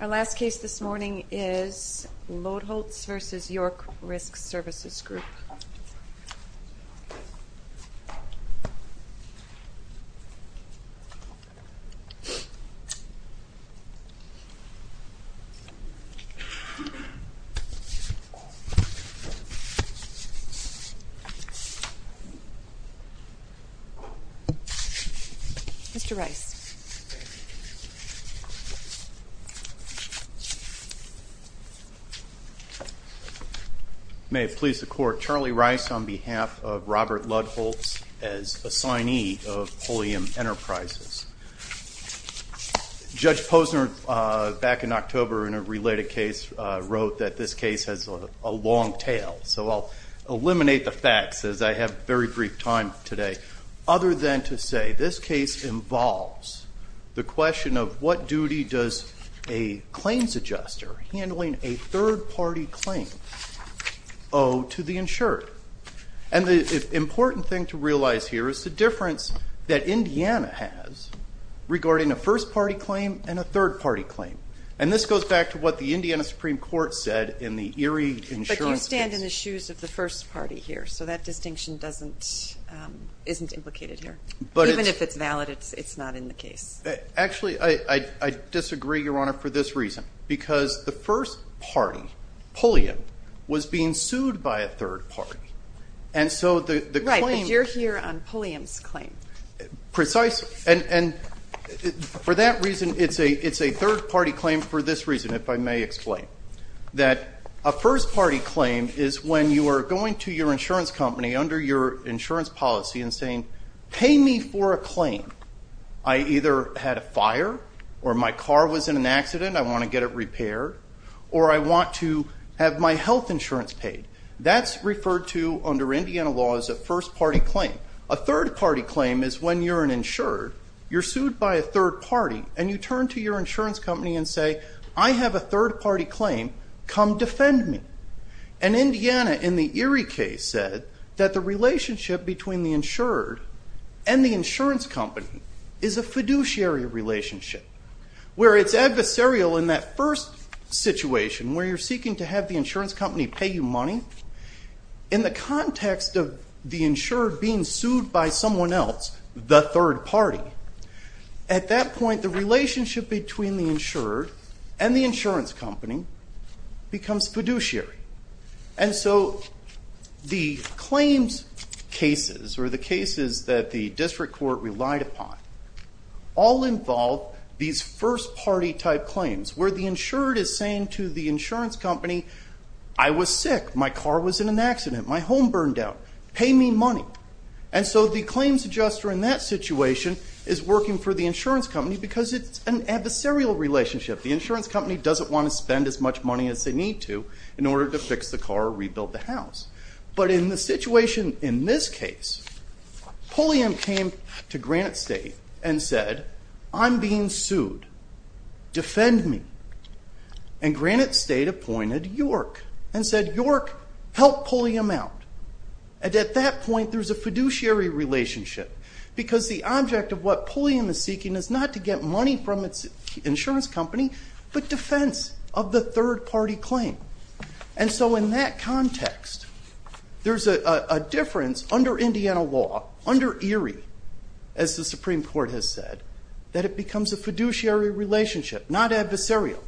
Our last case this morning is Lodholtz v. York Risk Services Group. Mr. Rice. May it please the Court, Charlie Rice on behalf of Robert Lodholtz as assignee of Pulliam Enterprises. Judge Posner back in October in a related case wrote that this case has a long tail, so I'll eliminate the facts as I have very brief time today. Other than to say this case involves the question of what duty does a claims adjuster handling a third-party claim owe to the insured? And the important thing to realize here is the difference that Indiana has regarding a first-party claim and a third-party claim. And this goes back to what the Indiana Supreme Court said in the Erie insurance case. But you stand in the shoes of the first party here. So that distinction isn't implicated here. Even if it's valid, it's not in the case. Actually I disagree, Your Honor, for this reason. Because the first party, Pulliam, was being sued by a third party. And so the claim Right, but you're here on Pulliam's claim. Precisely. And for that reason, it's a third-party claim for this reason, if I may explain. That a first-party claim is when you are going to your insurance company under your insurance policy and saying, pay me for a claim. I either had a fire or my car was in an accident, I want to get it repaired. Or I want to have my health insurance paid. That's referred to under Indiana law as a first-party claim. A third-party claim is when you're an insured, you're sued by a third party, and you turn to your insurance company and say, I have a third-party claim, come defend me. And Indiana in the Erie case said that the relationship between the insured and the insurance company is a fiduciary relationship, where it's adversarial in that first situation where you're seeking to have the insurance company pay you money. In the context of the insured being sued by someone else, the third party, at that point the relationship between the insured and the insurance company becomes fiduciary. And so the claims cases, or the cases that the district court relied upon, all involve these first-party type claims, where the insured is saying to the insurance company, I was sick, my car was in an accident, my home burned down, pay me money. And so the claims adjuster in that situation is working for the insurance company because it's an adversarial relationship. The insurance company doesn't want to spend as much money as they need to in order to fix the car or rebuild the house. But in the situation in this case, Pulliam came to Granite State and said, I'm being sued, defend me. And Granite State appointed York and said, York, help Pulliam out. And at that point, there's a fiduciary relationship because the object of what Pulliam is seeking is not to get money from its insurance company, but defense of the third-party claim. And so in that context, there's a difference under Indiana law, under Erie, as the Supreme Court has said, that it becomes a fiduciary relationship, not adversarial.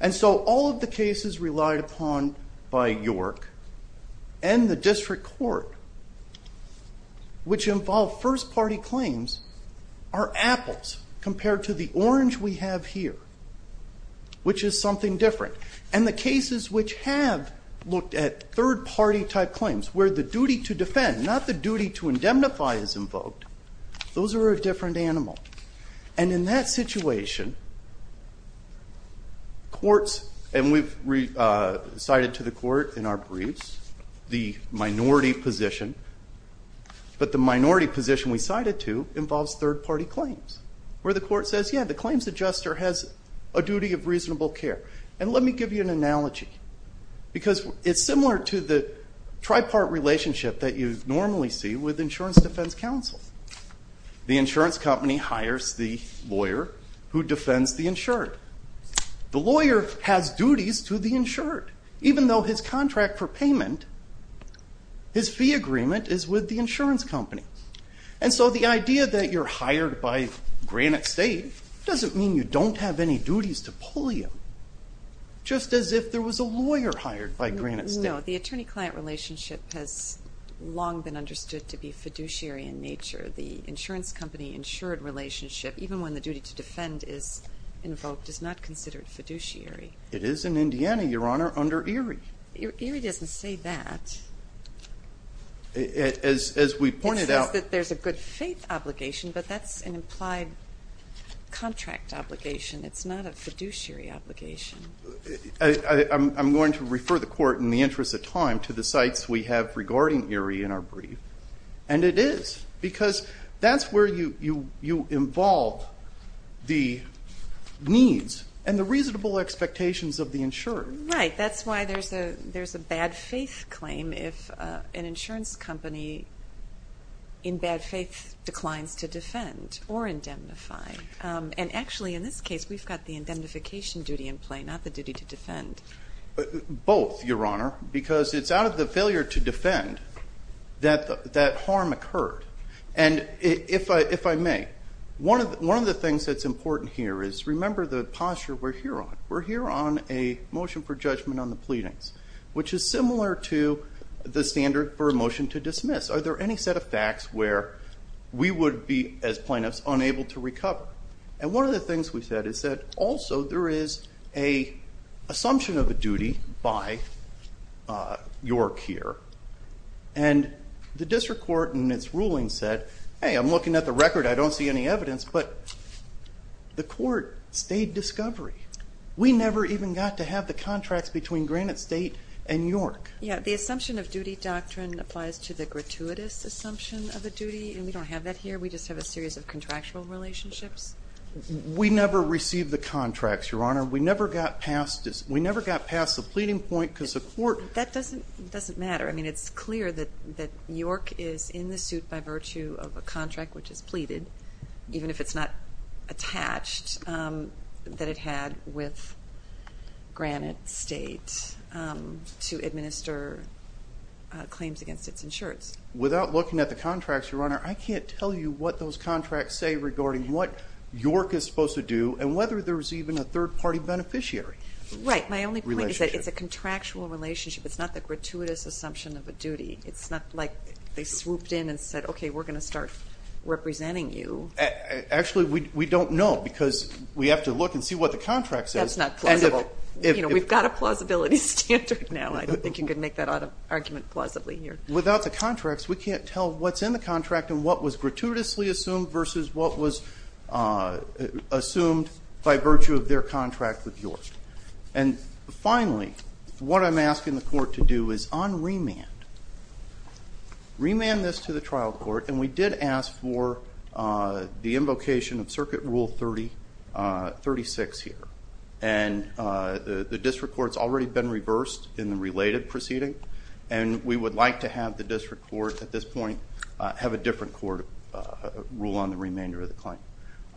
And so all of the cases relied upon by York and the district court, which involve first-party claims, are apples compared to the orange we have here, which is something different. And the cases which have looked at third-party type claims, where the duty to defend, not the duty to indemnify is invoked, those are a different animal. And in that situation, courts, and we've cited to the court in our briefs the minority position, but the minority position we cited to involves third-party claims, where the court says, yeah, the claims adjuster has a duty of reasonable care. And let me give you an analogy, because it's similar to the tripart relationship that you normally see with insurance defense counsel. The insurance company hires the lawyer who defends the insured. The lawyer has duties to the insured. Even though his contract for payment, his fee agreement is with the insurance company. And so the idea that you're hired by Granite State doesn't mean you don't have any duties to pull you, just as if there was a lawyer hired by Granite State. No, the attorney-client relationship has long been understood to be fiduciary in nature. The insurance company-insured relationship, even when the duty to defend is invoked, is not considered fiduciary. It is in Indiana, Your Honor, under Erie. Erie doesn't say that. As we pointed out- It says that there's a good faith obligation, but that's an implied contract obligation. It's not a fiduciary obligation. I'm going to refer the Court, in the interest of time, to the cites we have regarding Erie in our brief. And it is, because that's where you involve the needs and the reasonable expectations of the insured. Right. That's why there's a bad faith claim if an insurance company, in bad faith, declines to defend or indemnify. And actually, in this case, we've got the indemnification duty in play, not the duty to defend. Both, Your Honor, because it's out of the failure to defend that harm occurred. And if I may, one of the things that's important here is, remember the posture we're here on. We're here on a motion for judgment on the pleadings, which is similar to the standard for a motion to dismiss. Are there any set of facts where we would be, as plaintiffs, unable to recover? And one of the things we said is that, also, there is an assumption of a duty by York here. And the District Court, in its ruling, said, hey, I'm looking at the record. I don't see any evidence. But the Court stayed discovery. We never even got to have the contracts between Granite State and York. Yeah, the assumption of duty doctrine applies to the gratuitous assumption of a duty. And we don't have that here. We just have a series of contractual relationships. We never received the contracts, Your Honor. We never got past the pleading point, because the Court— That doesn't matter. I mean, it's clear that York is in the suit by virtue of a contract, which is pleaded, even if it's not attached, that it had with Granite State to administer claims against its insurance. Without looking at the contracts, Your Honor, I can't tell you what those contracts say regarding what York is supposed to do, and whether there's even a third-party beneficiary relationship. Right. My only point is that it's a contractual relationship. It's not the gratuitous assumption of a duty. It's not like they swooped in and said, okay, we're going to start representing you. Actually, we don't know, because we have to look and see what the contract says. That's not plausible. You know, we've got a plausibility standard now. I don't think you can make that argument plausibly here. Without the contracts, we can't tell what's in the contract and what was gratuitously assumed versus what was assumed by virtue of their contract with York. And finally, what I'm asking the court to do is unremand. Remand this to the trial court, and we did ask for the invocation of Circuit Rule 36 here. And the district court's already been reversed in the related proceeding, and we would like to have the district court, at this point, have a different court rule on the remainder of the claim.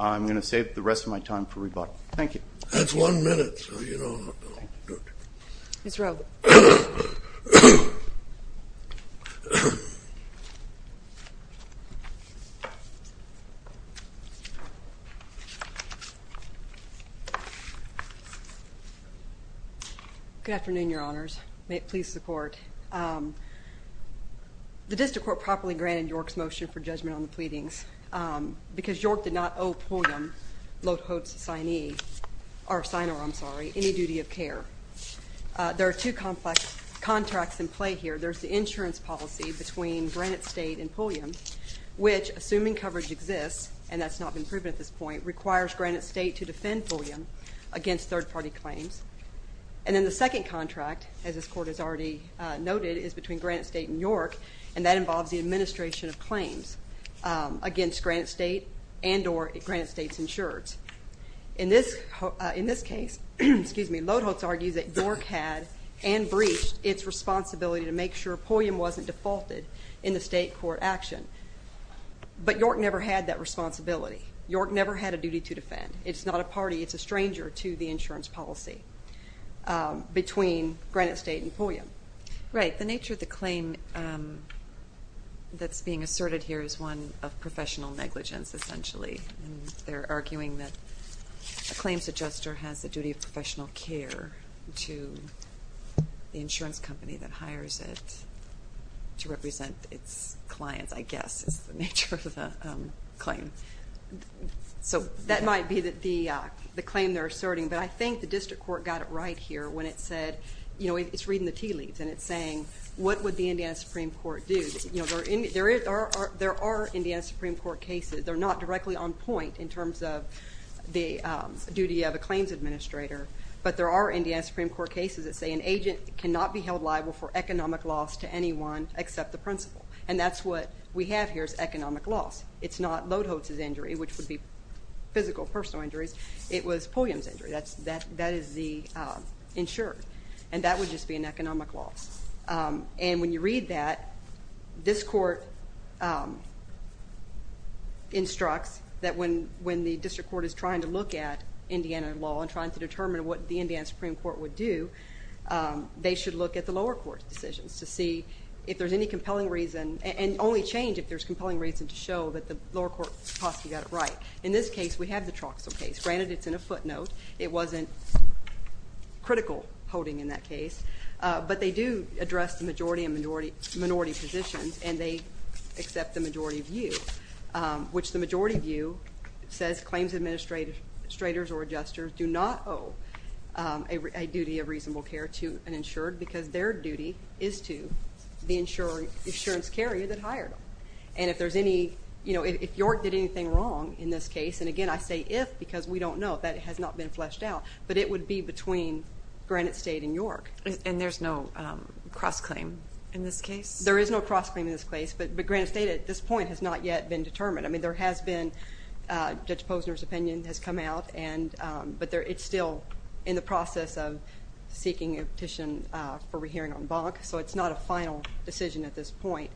I'm going to save the rest of my time for rebuttal. Thank you. That's one minute, so you don't have to do it. Ms. Rowe. Good afternoon, Your Honors. May it please the court. The district court properly granted York's motion for judgment on the pleadings, because York did not owe Pulliam, Lotho's signee, or signer, I'm sorry, any duty of care. There are two complex contracts in play here. There's the insurance policy between Granite State and Pulliam, which, assuming coverage exists, and that's not been proven at this point, requires Granite State to defend Pulliam against third-party claims. And then the second contract, as this court has already noted, is between Granite State and York, and that involves the administration of claims against Granite State, and or Granite State's insurers. In this case, Lotho's argues that York had and breached its responsibility to make sure Pulliam wasn't defaulted in the state court action. But York never had that responsibility. York never had a duty to defend. It's not a party. It's a stranger to the insurance policy between Granite State and Pulliam. Right. The nature of the claim that's being asserted here is one of professional negligence. Essentially, they're arguing that a claims adjuster has the duty of professional care to the insurance company that hires it to represent its clients, I guess, is the nature of the claim. So that might be the claim they're asserting, but I think the district court got it right here when it said, you know, it's reading the tea leaves, and it's saying, what would the Indiana Supreme Court do? You know, there are Indiana Supreme Court cases. They're not directly on point in terms of the duty of a claims administrator, but there are Indiana Supreme Court cases that say an agent cannot be held liable for economic loss to anyone except the principal. And that's what we have here is economic loss. It's not Lotho's injury, which would be physical, personal injuries. It was Pulliam's injury. That is the insurer. And that would just be an economic loss. And when you read that, this court instructs that when the district court is trying to look at Indiana law and trying to determine what the Indiana Supreme Court would do, they should look at the lower court's decisions to see if there's any compelling reason, and only change if there's compelling reason to show that the lower court possibly got it right. In this case, we have the Troxell case. Granted, it's in a footnote. It wasn't critical holding in that case. But they do address the majority and minority positions, and they accept the majority view, which the majority view says claims administrators or adjusters do not owe a duty of reasonable care to an insured because their duty is to the insurance carrier that hired them. And if there's any, you know, if York did anything wrong in this case, and again I say if because we don't know. That has not been fleshed out. But it would be between Granite State and York. And there's no cross-claim in this case? There is no cross-claim in this case, but Granite State at this point has not yet been determined. I mean, there has been, Judge Posner's opinion has come out, but it's still in the process of seeking a petition for re-hearing on Bonk, so it's not a final decision at this point.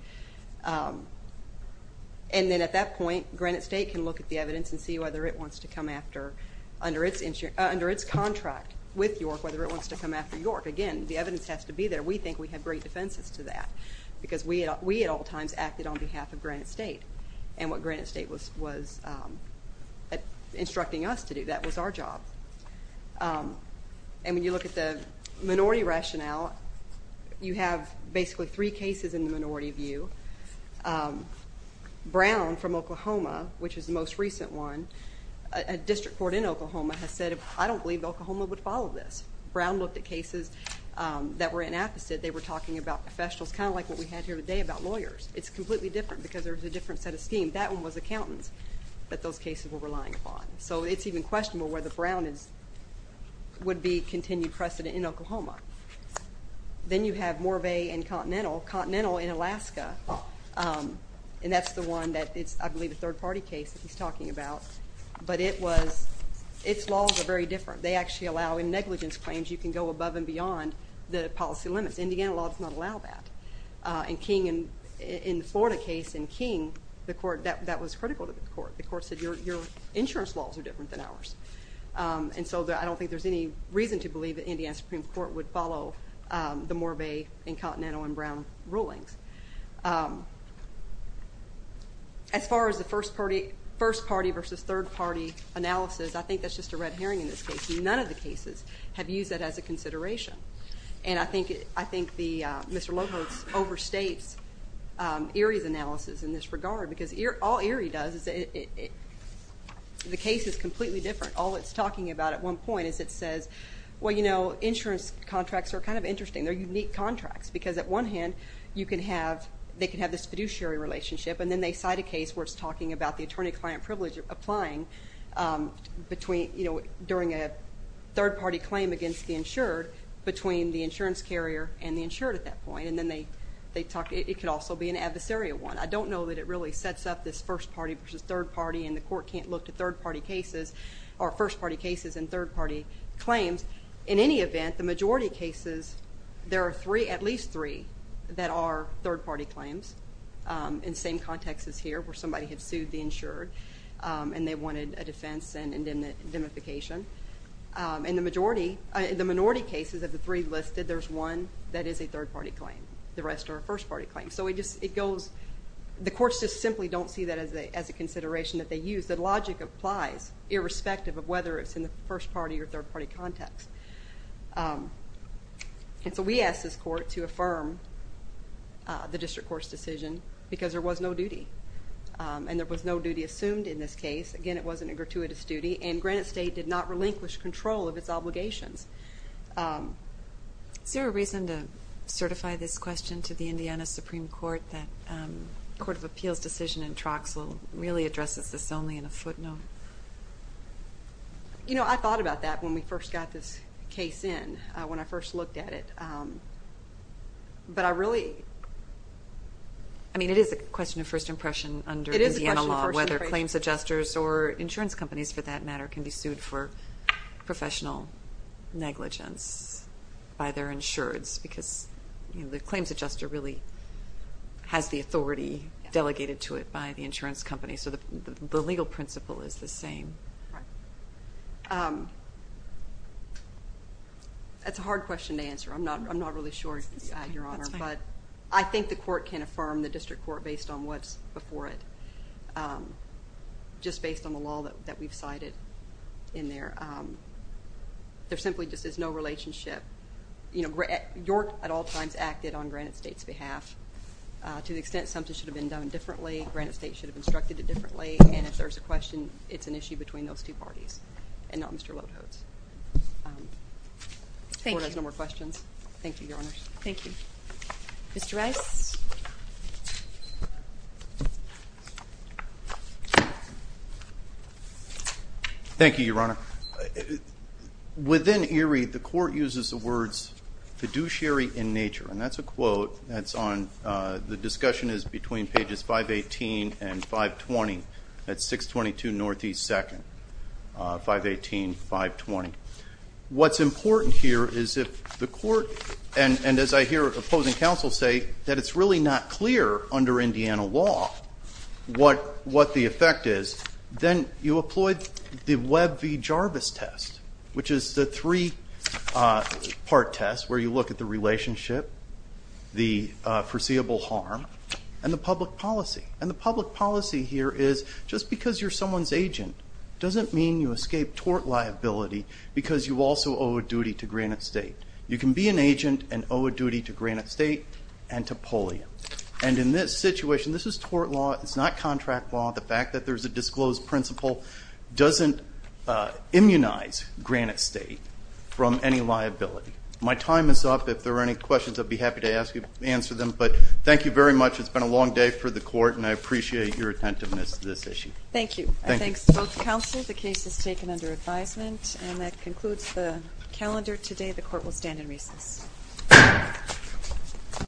And then at that point, Granite State can look at the evidence and see whether it wants to come after, under its contract with York, whether it wants to come after York. Again, the evidence has to be there. We think we have great defenses to that because we at all times acted on behalf of Granite State. And what Granite State was instructing us to do, that was our job. And when you look at the minority rationale, you have basically three cases in the minority view. Brown, from Oklahoma, which is the most recent one, a district court in Oklahoma has said, I don't believe Oklahoma would follow this. Brown looked at cases that were inapposite. They were talking about professionals, kind of like what we had here today about lawyers. It's completely different because there's a different set of scheme. That one was accountants that those cases were relying upon. Then you have Morve and Continental. Continental in Alaska, and that's the one that is, I believe, a third-party case that he's talking about. But it was, its laws are very different. They actually allow in negligence claims, you can go above and beyond the policy limits. Indiana law does not allow that. And King, in the Florida case, in King, the court, that was critical to the court. The court said, your insurance laws are different than ours. And so, I don't think there's any reason to believe that Indiana Supreme Court would follow the Morve and Continental and Brown rulings. As far as the first-party versus third-party analysis, I think that's just a red herring in this case. None of the cases have used that as a consideration. And I think Mr. Lohos overstates Erie's analysis in this regard. Because all Erie does is, the case is completely different. All it's talking about at one point is it says, well, you know, insurance contracts are kind of interesting. They're unique contracts. Because at one hand, you can have, they can have this fiduciary relationship, and then they cite a case where it's talking about the attorney-client privilege applying between, you know, during a third-party claim against the insured, between the insurance carrier and the insured at that point. And then they talk, it could also be an adversarial one. I don't know that it really sets up this first-party versus third-party, and the court can't look to third-party cases, or first-party cases and third-party claims. In any event, the majority cases, there are three, at least three, that are third-party claims. In the same context as here, where somebody had sued the insured, and they wanted a defense and indemnification. And the majority, the minority cases of the three listed, there's one that is a third-party claim. The rest are first-party claims. So it just, it goes, the courts just simply don't see that as a consideration that they use. The logic applies, irrespective of whether it's in the first-party or third-party context. And so we asked this court to affirm the district court's decision, because there was no duty. And there was no duty assumed in this case. Again, it wasn't a gratuitous duty, and Granite State did not relinquish control of its obligations. Is there a reason to certify this question to the Indiana Supreme Court that the Court of Appeals' decision in Troxel really addresses this only in a footnote? You know, I thought about that when we first got this case in, when I first looked at it. But I really, I mean, it is a question of first impression under Indiana law, whether claims adjusters or insurance companies, for that matter, can be sued for professional negligence by their insureds, because, you know, the claims adjuster really has the authority delegated to it by the insurance company. So the legal principle is the same. That's a hard question to answer. I'm not, I'm not really sure, Your Honor. That's fine. I don't think the court can affirm the district court based on what's before it, just based on the law that we've cited in there. There simply just is no relationship. You know, York at all times acted on Granite State's behalf. To the extent something should have been done differently, Granite State should have instructed it differently. And if there's a question, it's an issue between those two parties, and not Mr. Lodeholtz. Thank you. The Court has no more questions. Thank you, Your Honors. Thank you. Mr. Rice? Thank you, Your Honor. Within ERIE, the Court uses the words fiduciary in nature. And that's a quote that's on, the discussion is between pages 518 and 520. That's 622 Northeast 2nd, 518, 520. What's important here is if the Court, and as I hear opposing counsel say, that it's really not clear under Indiana law what the effect is, then you employ the Webb v. Jarvis test, which is the three-part test where you look at the relationship, the foreseeable harm, and the public policy. And the public policy here is just because you're someone's agent doesn't mean you escape tort liability, because you also owe a duty to Granite State. You can be an agent and owe a duty to Granite State and to polio. And in this situation, this is tort law. It's not contract law. The fact that there's a disclosed principle doesn't immunize Granite State from any liability. My time is up. If there are any questions, I'd be happy to answer them. But thank you very much. It's been a long day for the Court, and I appreciate your attentiveness to this issue. Thank you. I thank both counsel. Thank you. The case is taken under advisement, and that concludes the calendar today. The Court will stand in recess.